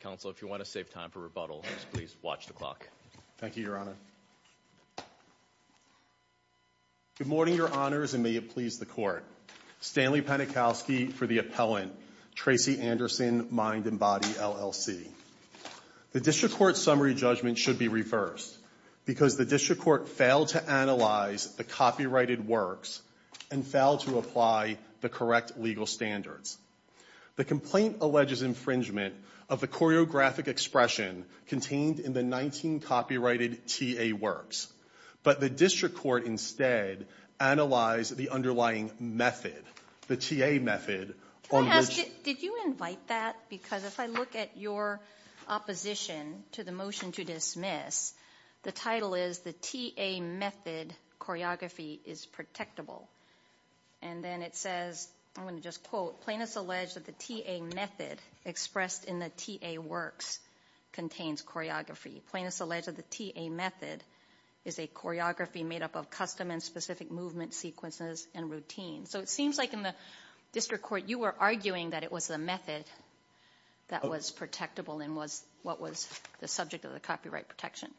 Council, if you want to save time for rebuttal, please watch the clock. Thank you, Your Honor. Good morning, Your Honors, and may it please the Court. Stanley Penikowski for the appellant, Tracy Anderson Mind And Body, LLC. The District Court's summary judgment should be reversed because the District Court failed to analyze the copyrighted works and failed to apply the correct legal standards. The complaint alleges infringement of the choreographic expression contained in the 19 copyrighted T.A. works, but the District Court instead analyzed the underlying method, the T.A. method. Can I ask, did you invite that, because if I look at your opposition to the motion to dismiss, the title is the T.A. method choreography is protectable, and then it says, I'm going to just quote, plaintiffs allege that the T.A. method expressed in the T.A. works contains choreography. Plaintiffs allege that the T.A. method is a choreography made up of custom and specific movement sequences and routines. So it seems like in the District Court you were arguing that it was the method that was protectable and was what was the subject of the copyright protection.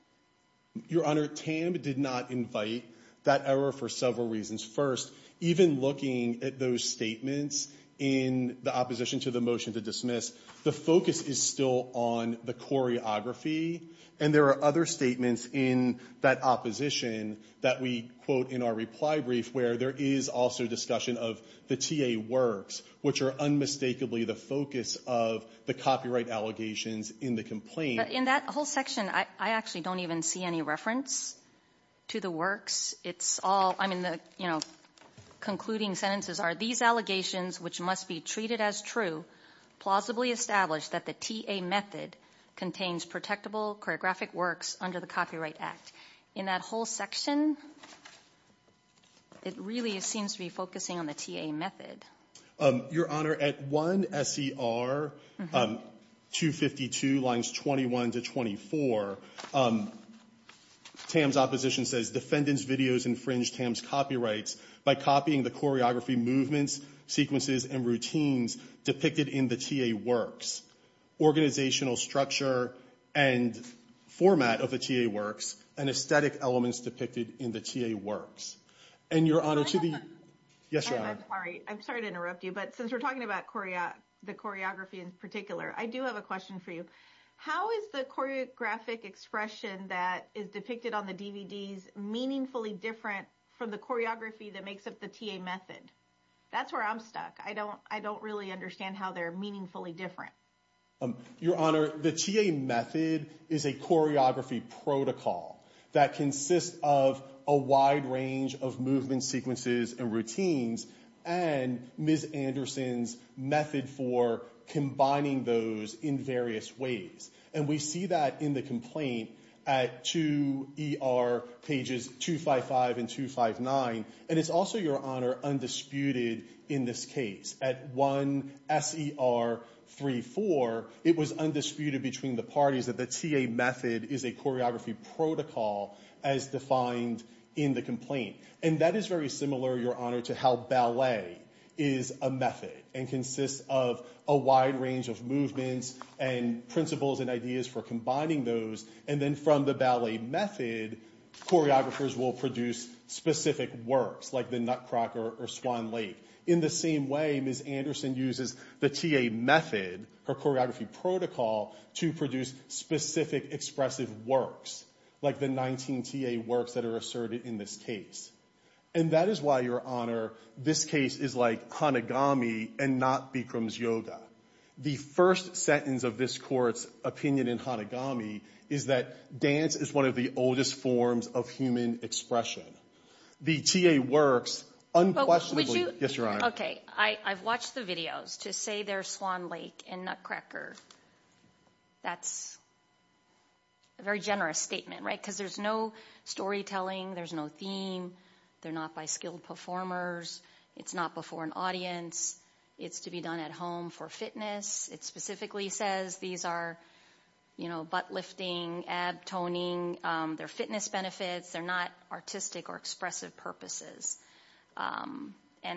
Your Honor, TAM did not invite that error for several reasons. First, even looking at those statements in the opposition to the motion to dismiss, the focus is still on the choreography, and there are other statements in that opposition that we quote in our reply brief where there is also discussion of the T.A. works, which are unmistakably the focus of the copyright allegations in the complaint. In that whole section, I actually don't even see any reference to the works. It's all, I mean, the concluding sentences are, these allegations, which must be treated as true, plausibly establish that the T.A. method contains protectable choreographic works under the Copyright Act. In that whole section, it really seems to be focusing on the T.A. method. Your Honor, at 1 S.E.R. 252, lines 21 to 24, TAM's opposition says defendants' videos infringed TAM's copyrights by copying the choreography movements, sequences, and routines depicted in the T.A. works, organizational structure and format of the T.A. works, and aesthetic elements depicted in the T.A. works. And Your Honor, to the- Can I have a- I'm sorry to interrupt you, but since we're talking about the choreography in particular, I do have a question for you. How is the choreographic expression that is depicted on the DVDs meaningfully different from the choreography that makes up the T.A. method? That's where I'm stuck. I don't really understand how they're meaningfully different. Your Honor, the T.A. method is a choreography protocol that consists of a wide range of movements, sequences, and routines, and Ms. Anderson's method for combining those in various ways. And we see that in the complaint at 2 E.R. pages 255 and 259. And it's also, Your Honor, undisputed in this case. At 1 S.E.R. 34, it was undisputed between the parties that the T.A. method is a choreography protocol as defined in the complaint. And that is very similar, Your Honor, to how ballet is a method and consists of a wide range of movements and principles and ideas for combining those. And then from the ballet method, choreographers will produce specific works, like the Nutcracker or Swan Lake. In the same way, Ms. Anderson uses the T.A. method, her choreography protocol, to produce specific expressive works, like the 19 T.A. works that are asserted in this case. And that is why, Your Honor, this case is like Hanagami and not Bikram's Yoga. The first sentence of this Court's opinion in Hanagami is that dance is one of the oldest forms of human expression. The T.A. works unquestionably— But would you— Yes, Your Honor. Okay. I've watched the videos. To say they're Swan Lake and Nutcracker, that's a very generous statement, right? Because there's no storytelling, there's no theme, they're not by skilled performers, it's not before an audience, it's to be done at home for fitness. It specifically says these are, you know, butt lifting, ab toning, they're fitness benefits, they're not artistic or expressive purposes. And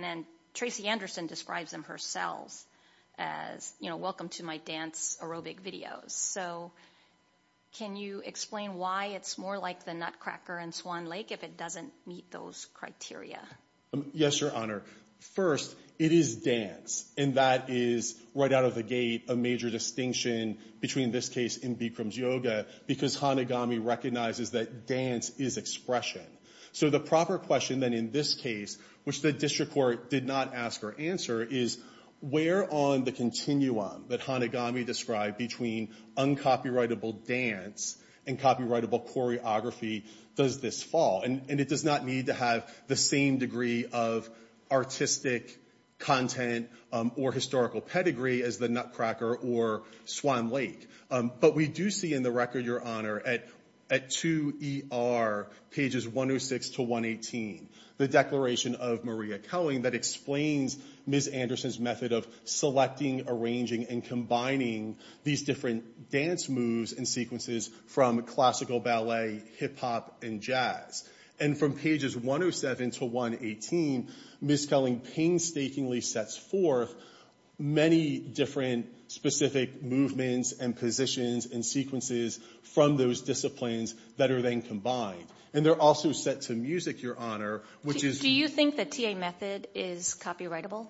then Tracy Anderson describes them herself as, you know, welcome to my dance aerobic videos. So can you explain why it's more like the Nutcracker and Swan Lake if it doesn't meet those criteria? Yes, Your Honor. First, it is dance, and that is right out of the gate a major distinction between this case and Bikram's Yoga, because Hanagami recognizes that dance is expression. So the proper question then in this case, which the district court did not ask or answer, is where on the continuum that Hanagami described between uncopyrightable dance and copyrightable choreography does this fall? And it does not need to have the same degree of artistic content or historical pedigree as the Nutcracker or Swan Lake. But we do see in the record, Your Honor, at 2ER, pages 106 to 118, the declaration of Maria Koenig that explains Ms. Anderson's method of selecting, arranging, and combining these different dance moves and sequences from classical ballet, hip hop, and jazz. And from pages 107 to 118, Ms. Koenig painstakingly sets forth many different specific movements and positions and sequences from those disciplines that are then combined. And they're also set to music, Your Honor, which is... Do you think the TA method is copyrightable?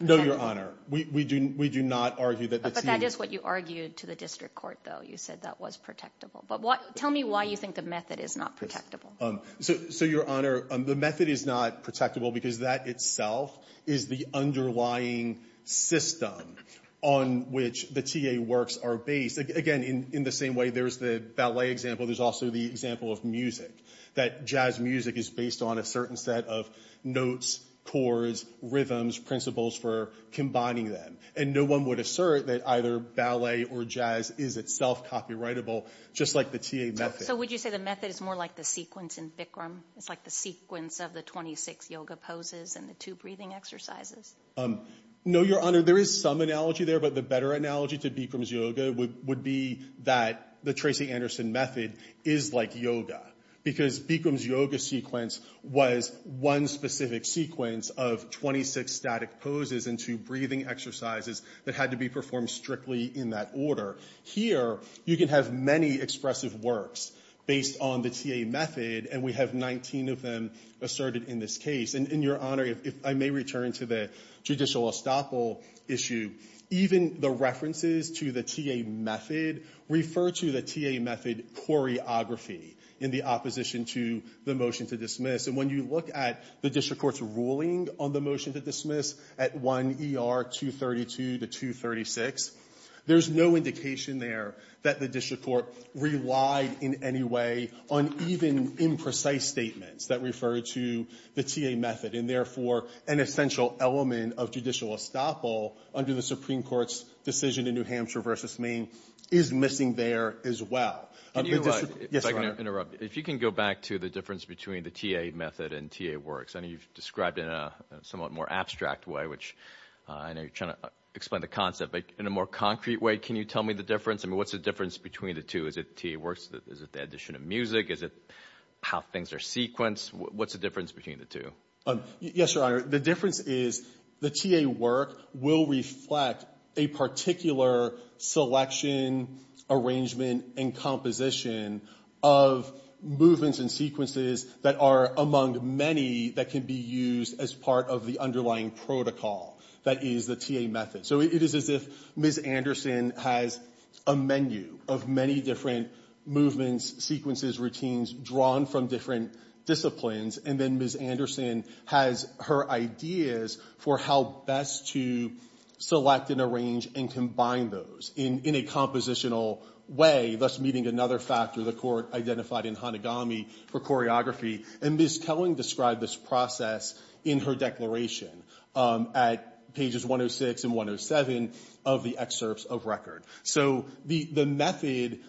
No, Your Honor. We do not argue that the TA... But that is what you argued to the district court, though. You said that was protectable. But tell me why you think the method is not protectable. So Your Honor, the method is not protectable because that itself is the underlying system on which the TA works are based. Again, in the same way there's the ballet example, there's also the example of music, that jazz music is based on a certain set of notes, chords, rhythms, principles for combining them. And no one would assert that either ballet or jazz is itself copyrightable, just like the TA method. So would you say the method is more like the sequence in Bikram? It's like the sequence of the 26 yoga poses and the two breathing exercises? No, Your Honor. There is some analogy there. But the better analogy to Bikram's yoga would be that the Tracy Anderson method is like yoga because Bikram's yoga sequence was one specific sequence of 26 static poses and two breathing exercises that had to be performed strictly in that order. Here, you can have many expressive works based on the TA method. And we have 19 of them asserted in this case. And, Your Honor, if I may return to the judicial estoppel issue, even the references to the TA method refer to the TA method choreography in the opposition to the motion to dismiss. And when you look at the district court's ruling on the motion to dismiss at 1 ER 232 to 236, there's no indication there that the district court relied in any way on even precise statements that refer to the TA method. And therefore, an essential element of judicial estoppel under the Supreme Court's decision in New Hampshire versus Maine is missing there as well. Yes, Your Honor. If you can go back to the difference between the TA method and TA works, I know you've described in a somewhat more abstract way, which I know you're trying to explain the concept, but in a more concrete way, can you tell me the difference? I mean, what's the difference between the two? Is it TA works? Is it the addition of music? Is it how things are sequenced? What's the difference between the two? Yes, Your Honor. The difference is the TA work will reflect a particular selection, arrangement, and composition of movements and sequences that are among many that can be used as part of the underlying protocol that is the TA method. It is as if Ms. Anderson has a menu of many different movements, sequences, routines drawn from different disciplines, and then Ms. Anderson has her ideas for how best to select and arrange and combine those in a compositional way, thus meeting another factor the court identified in Hanegami for choreography. And Ms. Kelling described this process in her declaration at pages 106 and 107 of the excerpts of record. So the method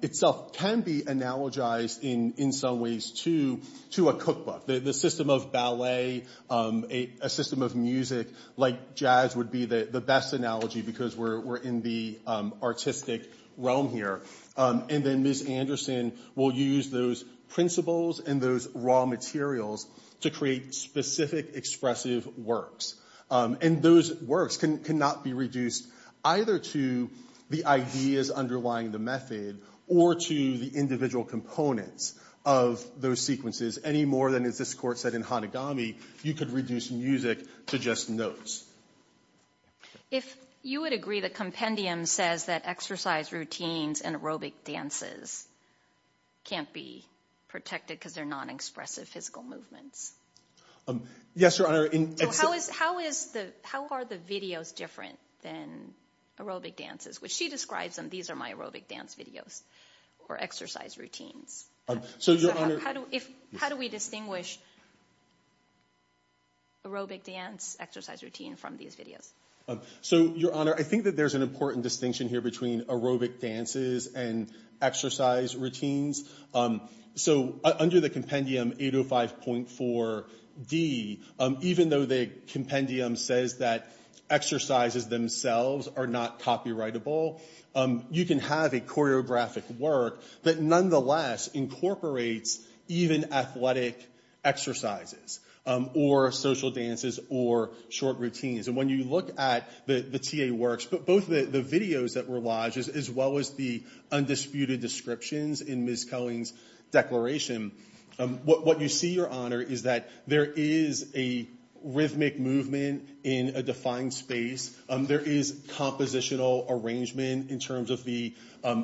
itself can be analogized in some ways to a cookbook. The system of ballet, a system of music, like jazz would be the best analogy because we're in the artistic realm here. And then Ms. Anderson will use those principles and those raw materials to create specific, expressive works. And those works cannot be reduced either to the ideas underlying the method or to the individual components of those sequences any more than, as this Court said in Hanegami, you could reduce music to just notes. If you would agree that Compendium says that exercise routines and aerobic dances can't be protected because they're non-expressive physical movements? Yes, Your Honor. So how are the videos different than aerobic dances? Which she describes them, these are my aerobic dance videos, or exercise routines. So, Your Honor. How do we distinguish aerobic dance exercise routine from these videos? So, Your Honor, I think that there's an important distinction here between aerobic dances and exercise routines. So under the Compendium 805.4d, even though the Compendium says that exercises themselves are not copyrightable, you can have a choreographic work that nonetheless incorporates even athletic exercises or social dances or short routines. And when you look at the TA works, both the videos that were lodged as well as the undisputed descriptions in Ms. Koenig's declaration, what you see, Your Honor, is that there is a rhythmic movement in a defined space. There is compositional arrangement in terms of the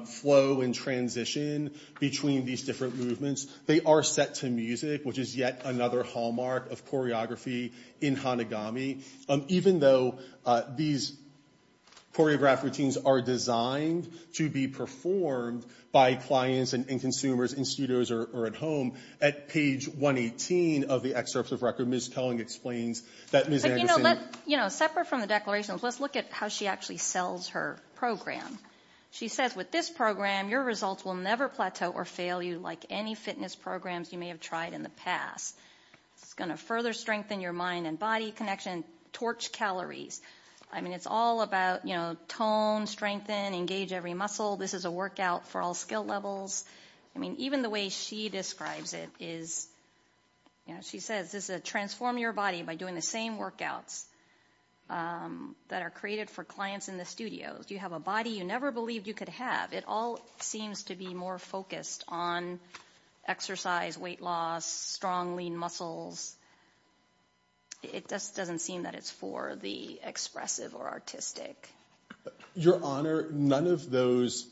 flow and transition between these different movements. They are set to music, which is yet another hallmark of choreography in Hanagami. Even though these choreographed routines are designed to be performed by clients and consumers in studios or at home, at page 118 of the excerpts of record, Ms. Koenig explains that Ms. Anderson... Separate from the declarations, let's look at how she actually sells her program. She says, With this program, your results will never plateau or fail you like any fitness programs you may have tried in the past. It's going to further strengthen your mind and body connection, torch calories. I mean, it's all about tone, strengthen, engage every muscle. This is a workout for all skill levels. I mean, even the way she describes it is... You know, she says this is a transform your body by doing the same workouts that are created for clients in the studios. You have a body you never believed you could have. It all seems to be more focused on exercise, weight loss, strong, lean muscles. It just doesn't seem that it's for the expressive or artistic. Your Honor, none of those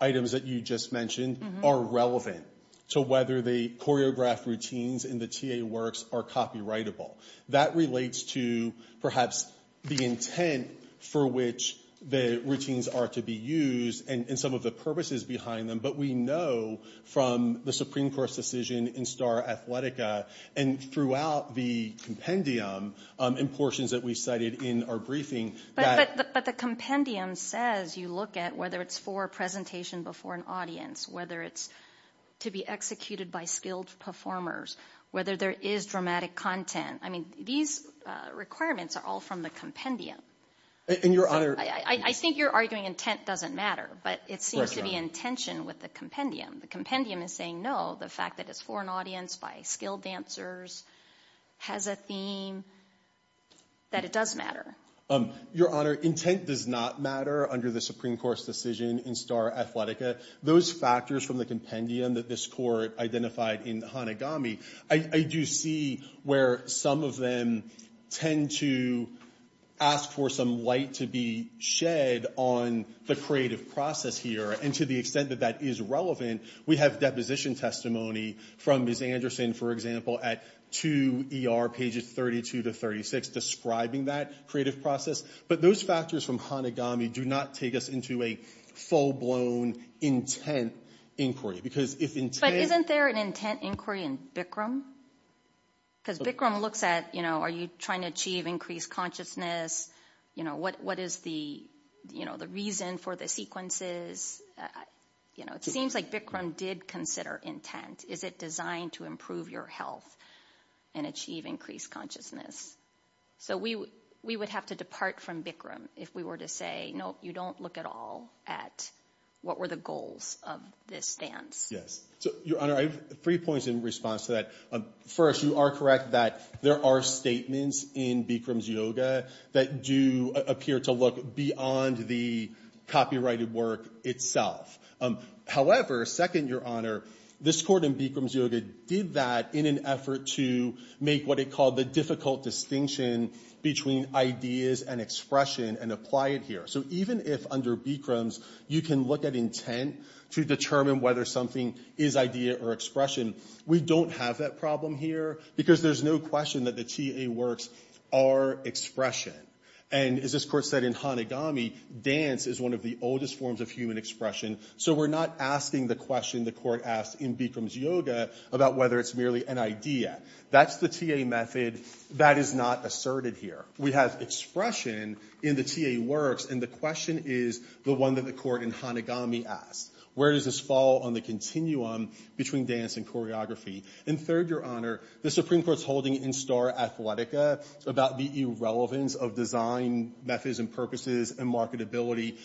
items that you just mentioned are relevant to whether the choreographed routines in the TA works are copyrightable. That relates to perhaps the intent for which the routines are to be used and some of the purposes behind them. But we know from the Supreme Court's decision in Star Athletica and throughout the compendium and portions that we cited in our briefing that... But the compendium says you look at whether it's for a presentation before an audience, whether it's to be executed by skilled performers, whether there is dramatic content. I mean, these requirements are all from the compendium. And Your Honor... I think you're arguing intent doesn't matter, but it seems to be intention with the compendium. The compendium is saying, no, the fact that it's for an audience by skilled dancers has a theme that it does matter. Your Honor, intent does not matter under the Supreme Court's decision in Star Athletica. Those factors from the compendium that this Court identified in Hanegami, I do see where some of them tend to ask for some light to be shed on the creative process here. And to the extent that that is relevant, we have deposition testimony from Ms. Anderson, for example, at 2 ER pages 32 to 36 describing that creative process. But those factors from Hanegami do not take us into a full-blown intent inquiry. Because if intent... But isn't there an intent inquiry in Bikram? Because Bikram looks at, you know, are you trying to achieve increased consciousness? You know, what is the reason for the sequences? You know, it seems like Bikram did consider intent. Is it designed to improve your health and achieve increased consciousness? So we would have to depart from Bikram if we were to say, no, you don't look at all at what were the goals of this dance. So, Your Honor, I have three points in response to that. First, you are correct that there are statements in Bikram's yoga that do appear to look beyond the copyrighted work itself. However, second, Your Honor, this Court in Bikram's yoga did that in an effort to make what it called the difficult distinction between ideas and expression and apply it here. So even if under Bikram's you can look at intent to determine whether something is idea or expression, we don't have that problem here. Because there's no question that the TA works are expression. And as this Court said in Hanegami, dance is one of the oldest forms of human expression. So we're not asking the question the Court asked in Bikram's yoga about whether it's merely an idea. That's the TA method. That is not asserted here. We have expression in the TA works. And the question is the one that the Court in Hanegami asked. Where does this fall on the continuum between dance and choreography? And third, Your Honor, the Supreme Court's holding in Star Athletica about the irrelevance of design methods and purposes and marketability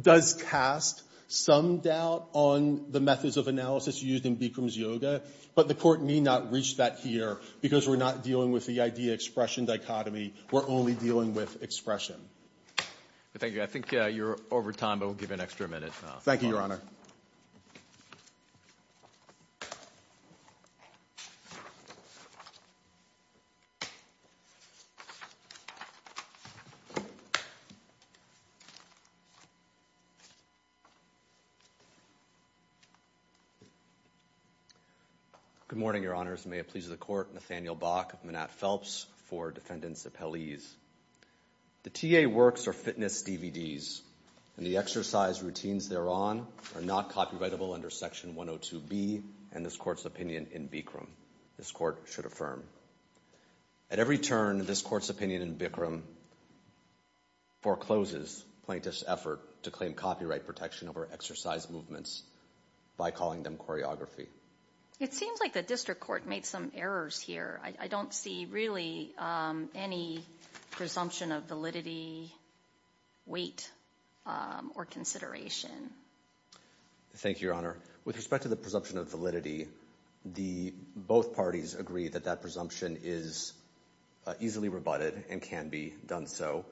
does cast some doubt on the methods of analysis used in Bikram's yoga. But the Court need not reach that here because we're not dealing with the idea-expression dichotomy. We're only dealing with expression. Thank you. I think you're over time, but we'll give you an extra minute. Thank you, Your Honor. Good morning, Your Honors. May it please the Court. Nathaniel Bach of Manat Phelps for Defendants' Appellees. The TA works are fitness DVDs, and the exercise routines thereon are not copyrightable under Section 102B and this Court's opinion in Bikram, this Court should affirm. At every turn, this Court's opinion in Bikram forecloses plaintiffs' effort to claim copyright protection over exercise movements by calling them choreography. It seems like the District Court made some errors here. I don't see really any presumption of validity, weight, or consideration. Thank you, Your Honor. With respect to the presumption of validity, both parties agree that that presumption is easily rebutted and can be done so.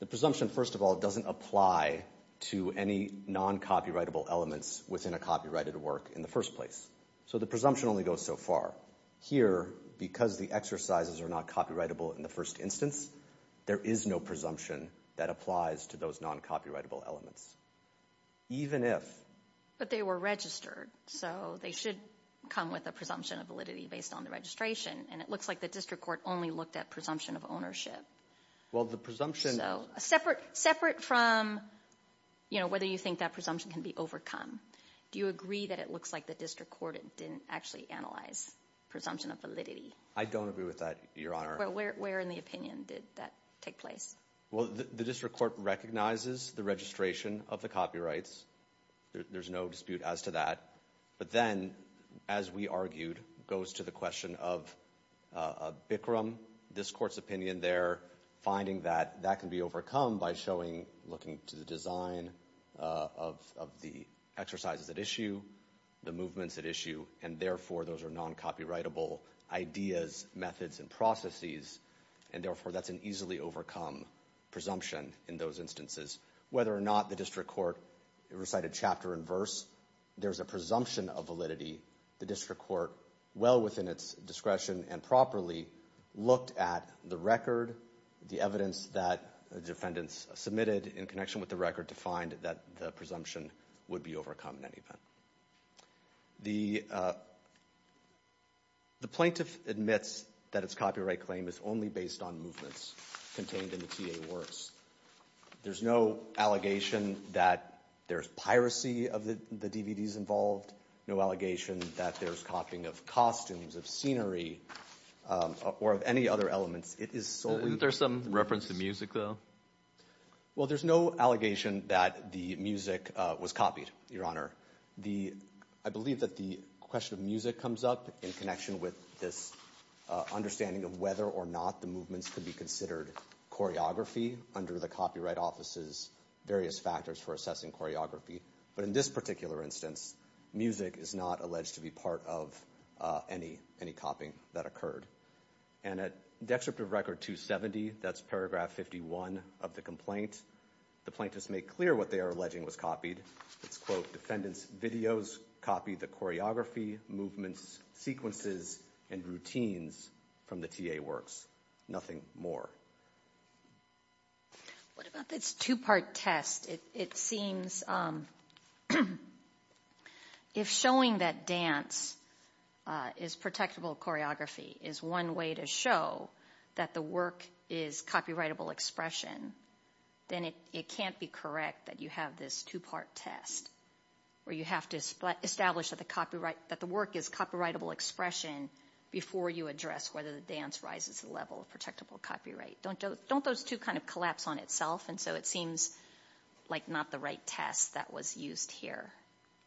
The presumption, first of all, doesn't apply to any non-copyrightable elements within a copyrighted work in the first place. So the presumption only goes so far. Here, because the exercises are not copyrightable in the first instance, there is no presumption that applies to those non-copyrightable elements, even if... But they were registered, so they should come with a presumption of validity based on the registration. And it looks like the District Court only looked at presumption of ownership. Well, the presumption... So, separate from, you know, whether you think that presumption can be overcome. Do you agree that it looks like the District Court didn't actually analyze? Presumption of validity. I don't agree with that, Your Honor. Where in the opinion did that take place? Well, the District Court recognizes the registration of the copyrights. There's no dispute as to that. But then, as we argued, goes to the question of Bikram. This court's opinion there, finding that that can be overcome by showing, looking to the design of the exercises at issue, the movements at issue. And therefore, those are non-copyrightable ideas, methods, and processes. And therefore, that's an easily overcome presumption in those instances. Whether or not the District Court recited chapter and verse, there's a presumption of validity. The District Court, well within its discretion and properly, looked at the record, the evidence that the defendants submitted in connection with the record to find that the presumption would be overcome in any event. The plaintiff admits that its copyright claim is only based on movements contained in the TA works. There's no allegation that there's piracy of the DVDs involved, no allegation that there's copying of costumes, of scenery, or of any other elements. Isn't there some reference to music, though? Well, there's no allegation that the music was copied, Your Honor. The, I believe that the question of music comes up in connection with this understanding of whether or not the movements could be considered choreography under the Copyright Office's various factors for assessing choreography. But in this particular instance, music is not alleged to be part of any copying that occurred. And at Dextract of Record 270, that's paragraph 51 of the complaint, the plaintiffs make clear what they are alleging was copied. It's, quote, defendants' videos copy the choreography, movements, sequences, and routines from the TA works. Nothing more. What about this two-part test? It seems, if showing that dance is protectable choreography is one way to show that the work is copyrightable expression, then it can't be correct that you have this two-part test, where you have to establish that the work is copyrightable expression before you address whether the dance rises to the level of protectable copyright. Don't those two kind of collapse on itself? And so it seems like not the right test that was used here.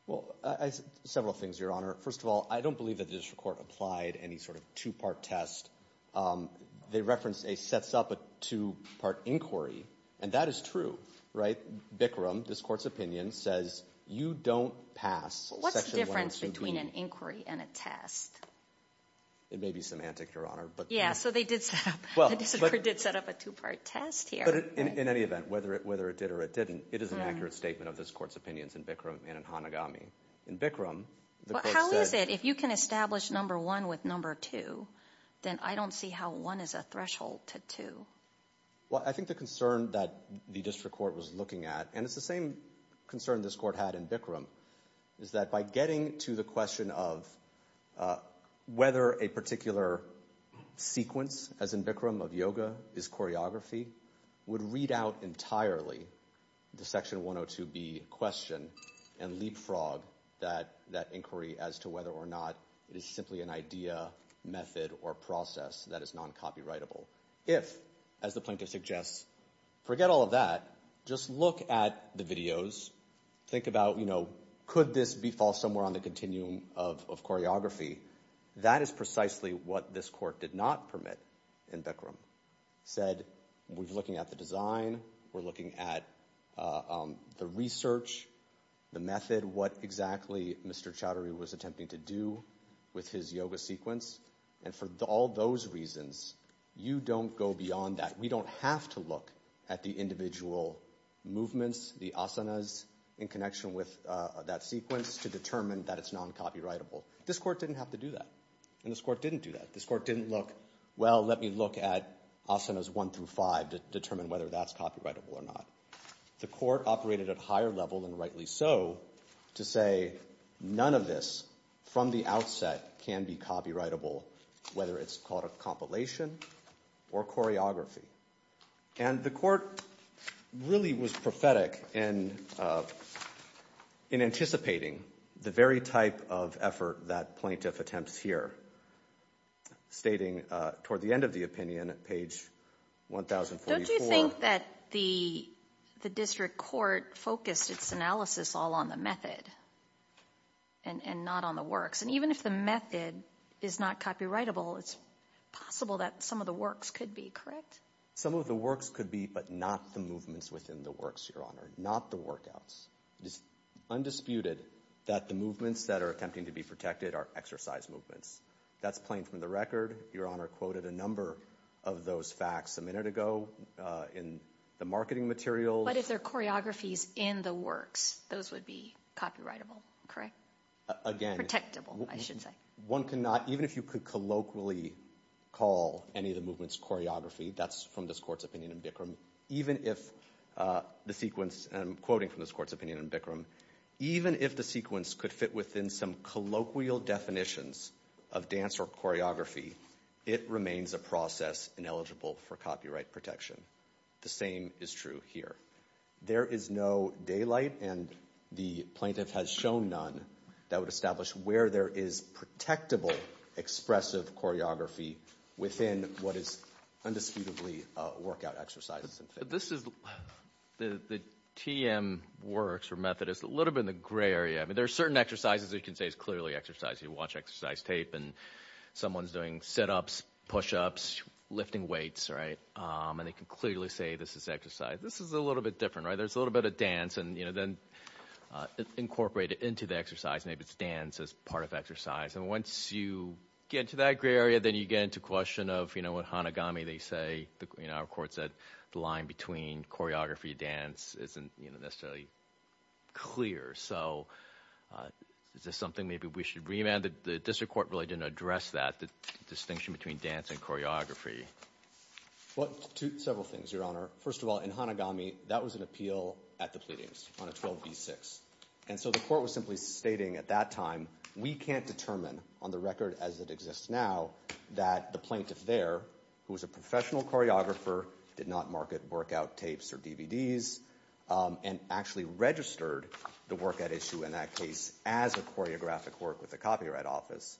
Well, several things, Your Honor. First of all, I don't believe that the district court applied any sort of two-part test. They referenced a sets up a two-part inquiry, and that is true, right? Bikram, this court's opinion, says you don't pass section 112B. What's the difference between an inquiry and a test? It may be semantic, Your Honor, but... Yeah, so they did set up, the district court did set up a two-part test here. But in any event, whether it did or it didn't, it is an accurate statement of this court's opinions in Bikram and in Hanagami. In Bikram, the court said... How is it, if you can establish number one with number two, then I don't see how one is a threshold to two. Well, I think the concern that the district court was looking at, and it's the same concern this court had in Bikram, is that by getting to the question of whether a particular sequence, as in Bikram, of yoga is choreography, would read out entirely the section 102B question and leapfrog that inquiry as to whether or not it is simply an idea, method, or process that is non-copyrightable. If, as the plaintiff suggests, forget all of that, just look at the videos, think about, you know, could this be false somewhere on the continuum of choreography? That is precisely what this court did not permit in Bikram. Said, we're looking at the design, we're looking at the research, the method, what exactly Mr. Chowdhury was attempting to do with his yoga sequence. And for all those reasons, you don't go beyond that. We don't have to look at the individual movements, the asanas in connection with that sequence to determine that it's non-copyrightable. This court didn't have to do that. And this court didn't do that. This court didn't look, well, let me look at asanas one through five to determine whether that's copyrightable or not. The court operated at a higher level, and rightly so, to say none of this, from the outset, can be copyrightable, whether it's called a compilation or choreography. And the court really was prophetic in anticipating the very type of effort that plaintiff attempts here, stating toward the end of the opinion, page 1044. Do you think that the district court focused its analysis all on the method and not on the works? And even if the method is not copyrightable, it's possible that some of the works could be, correct? Some of the works could be, but not the movements within the works, Your Honor, not the workouts. It is undisputed that the movements that are attempting to be protected are exercise movements. That's plain from the record. Your Honor quoted a number of those facts a minute ago in the marketing materials. But if they're choreographies in the works, those would be copyrightable, correct? Again. Protectable, I should say. One cannot, even if you could colloquially call any of the movements choreography, that's from this court's opinion in Bikram, even if the sequence, and I'm quoting from this court's opinion in Bikram, even if the sequence could fit within some colloquial definitions of dance or choreography, it remains a process ineligible for copyright protection. The same is true here. There is no daylight, and the plaintiff has shown none, that would establish where there is protectable expressive choreography within what is undisputedly workout exercises. This is the TM works or method. It's a little bit in the gray area. I mean, there are certain exercises you can say is clearly exercise. You watch exercise tape, and someone's doing sit-ups, push-ups, lifting weights, right? And they can clearly say this is exercise. This is a little bit different, right? There's a little bit of dance, and then incorporate it into the exercise. Maybe it's dance as part of exercise. And once you get to that gray area, then you get into question of, you know, what Hanagami, they say, you know, our court said, the line between choreography and dance isn't necessarily clear. So is this something maybe we should remand? The district court really didn't address that, the distinction between dance and choreography. Well, several things, Your Honor. First of all, in Hanagami, that was an appeal at the pleadings on a 12b6. And so the court was simply stating at that time, we can't determine on the record as it exists now that the plaintiff there, who was a professional choreographer, did not market workout tapes or DVDs, and actually registered the workout issue in that case as a choreographic work with the copyright office.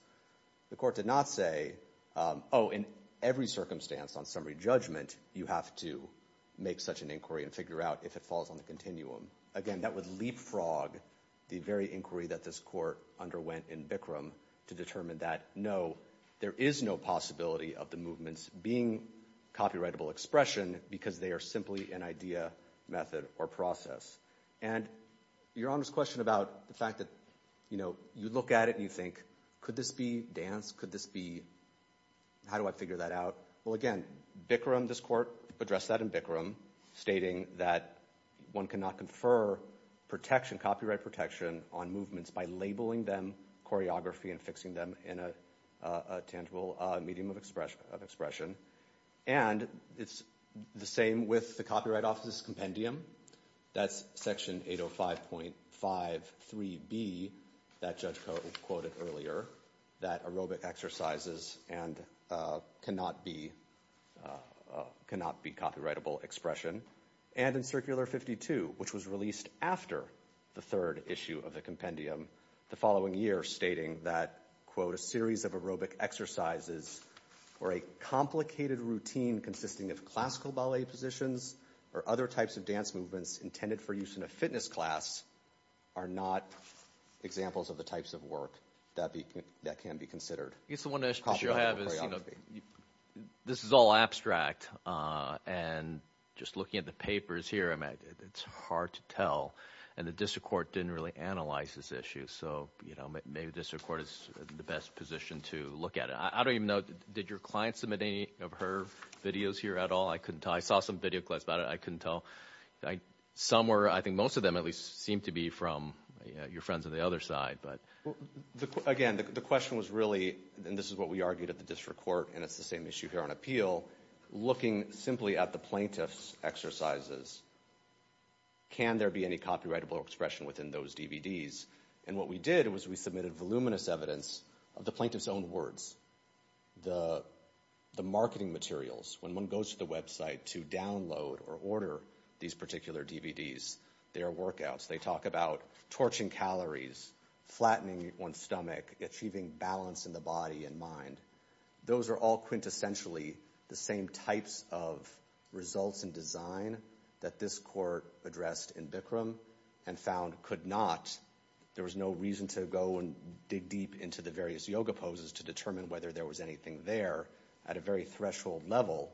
The court did not say, oh, in every circumstance on summary judgment, you have to make such an inquiry and figure out if it falls on the continuum. Again, that would leapfrog the very inquiry that this court underwent in Bikram to determine that no, there is no possibility of the movements being copyrightable expression because they are simply an idea, method, or process. And Your Honor's question about the fact that, you look at it and you think, could this be dance? Could this be, how do I figure that out? Well, again, Bikram, this court addressed that in Bikram, stating that one cannot confer protection, copyright protection on movements by labeling them choreography and fixing them in a tangible medium of expression. And it's the same with the Copyright Office's compendium. That's section 805.53B, that judge quoted earlier, that aerobic exercises cannot be copyrightable expression. And in Circular 52, which was released after the third issue of the compendium, the following year, stating that, quote, a series of aerobic exercises or a complicated routine consisting of classical ballet positions or other types of dance movements intended for use in a fitness class are not examples of the types of work that can be considered. I guess the one question I have is, this is all abstract. And just looking at the papers here, I mean, it's hard to tell. And the district court didn't really analyze this issue. So maybe the district court is in the best position to look at it. I don't even know, did your client submit any of her videos here at all? I couldn't tell. I saw some video clips about it. I couldn't tell. Some were, I think most of them at least seemed to be from your friends on the other side. But again, the question was really, and this is what we argued at the district court, and it's the same issue here on appeal. Looking simply at the plaintiff's exercises, can there be any copyrightable expression within those DVDs? And what we did was we submitted voluminous evidence of the plaintiff's own words. The marketing materials, when one goes to the website to download or order these particular DVDs, their workouts, they talk about torching calories, flattening one's stomach, achieving balance in the body and mind. Those are all quintessentially the same types of results and design that this court addressed in Bikram and found could not. There was no reason to go and dig deep into the various yoga poses to determine whether there was anything there. At a very threshold level,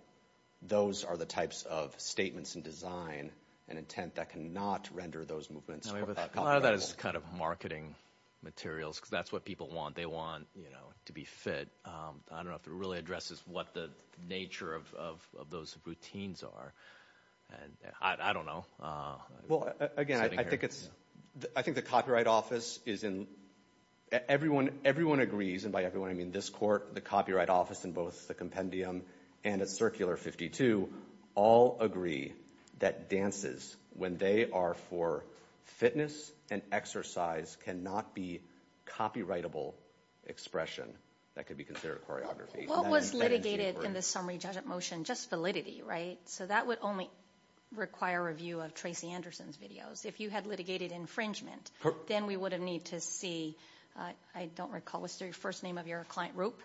those are the types of statements and design and intent that cannot render those movements copyrightable. A lot of that is kind of marketing materials because that's what people want. They want to be fit. I don't know if it really addresses what the nature of those routines are. And I don't know. Well, again, I think it's, I think the Copyright Office is in, everyone agrees, and by everyone I mean this court, the Copyright Office in both the compendium and at Circular 52 all agree that dances, when they are for fitness and exercise, cannot be copyrightable expression. That could be considered choreography. What was litigated in the summary judgment motion? Just validity, right? So that would only require a review of Tracy Anderson's videos. If you had litigated infringement, then we would have need to see, I don't recall, what's the first name of your client, Roop?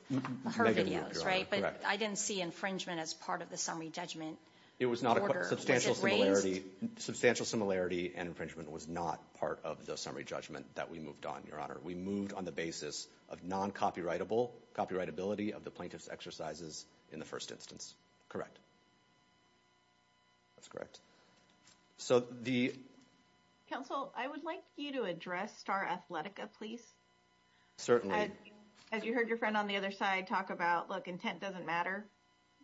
Her videos, right? But I didn't see infringement as part of the summary judgment. It was not a substantial similarity. Substantial similarity and infringement was not part of the summary judgment that we moved on, Your Honor. We moved on the basis of non-copyrightable, copyrightability of the plaintiff's exercises in the first instance, correct? That's correct. So the- Counsel, I would like you to address Star Athletica, please. Certainly. As you heard your friend on the other side talk about, look, intent doesn't matter.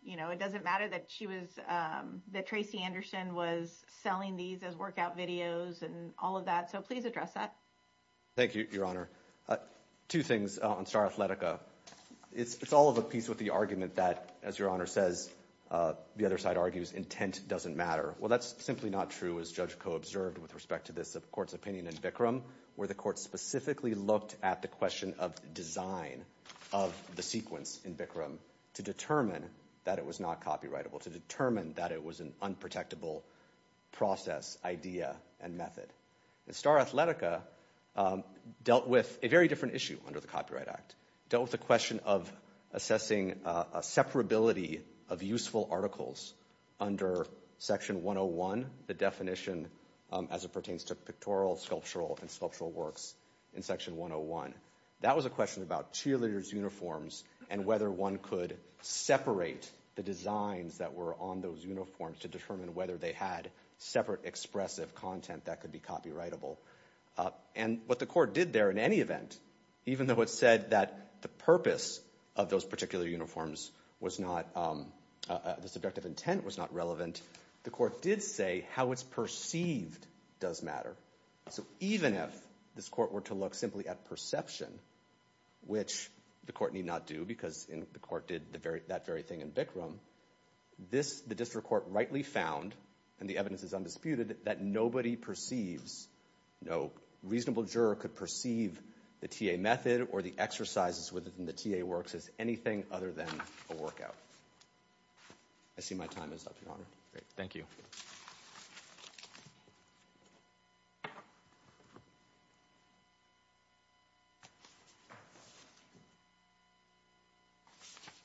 You know, it doesn't matter that she was, that Tracy Anderson was selling these as workout videos and all of that. So please address that. Thank you, Your Honor. Two things on Star Athletica. It's all of a piece with the argument that, as Your Honor says, the other side argues intent doesn't matter. Well, that's simply not true, as Judge Koh observed with respect to this court's opinion in Bikram, where the court specifically looked at the question of design of the sequence in Bikram to determine that it was not copyrightable, to determine that it was an unprotectable process, idea, and method. And Star Athletica dealt with a very different issue under the Copyright Act. Dealt with the question of assessing a separability of useful articles under Section 101, the definition as it pertains to pictorial, sculptural, and sculptural works in Section 101. That was a question about cheerleaders' uniforms and whether one could separate the designs that were on those uniforms to determine whether they had separate expressive content that could be copyrightable. And what the court did there in any event, even though it said that the purpose of those particular uniforms was not, the subjective intent was not relevant, the court did say how it's perceived does matter. So even if this court were to look simply at perception, which the court need not do because the court did that very thing in Bikram, the district court rightly found, and the evidence is undisputed, that nobody perceives, no reasonable juror could perceive the TA method or the exercises within the TA works as anything other than a workout. I see my time is up, Your Honor. Great, thank you.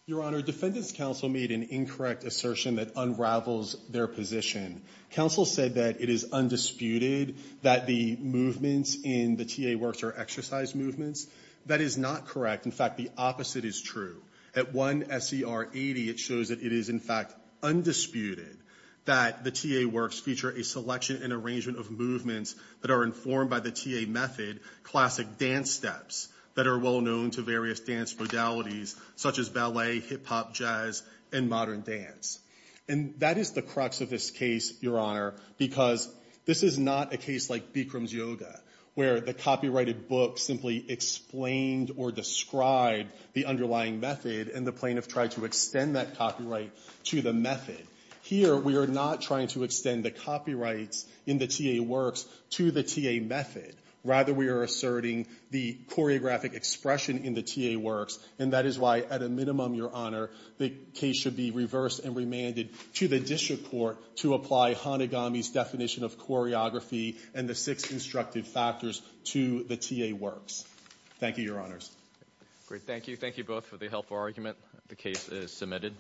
Your Honor, Defendants' Counsel made an incorrect assertion that unravels their position. Counsel said that it is undisputed that the movements in the TA works are exercise movements. That is not correct. In fact, the opposite is true. At one SCR 80, it shows that it is, in fact, undisputed that the TA works feature a selection and arrangement of movements that are informed by the TA method, classic dance steps that are well known to various dance modalities, such as ballet, hip hop, jazz, and modern dance. And that is the crux of this case, Your Honor, because this is not a case like Bikram's yoga, where the copyrighted book simply explained or described the underlying method, and the plaintiff tried to extend that copyright to the method. Here, we are not trying to extend the copyrights in the TA works to the TA method. Rather, we are asserting the choreographic expression in the TA works, and that is why, at a minimum, Your Honor, the case should be reversed and remanded to the district court to apply Hanegami's definition of choreography and the six instructive factors to the TA works. Thank you, Your Honors. Great. Thank you. Thank you both for the helpful argument. The case is submitted.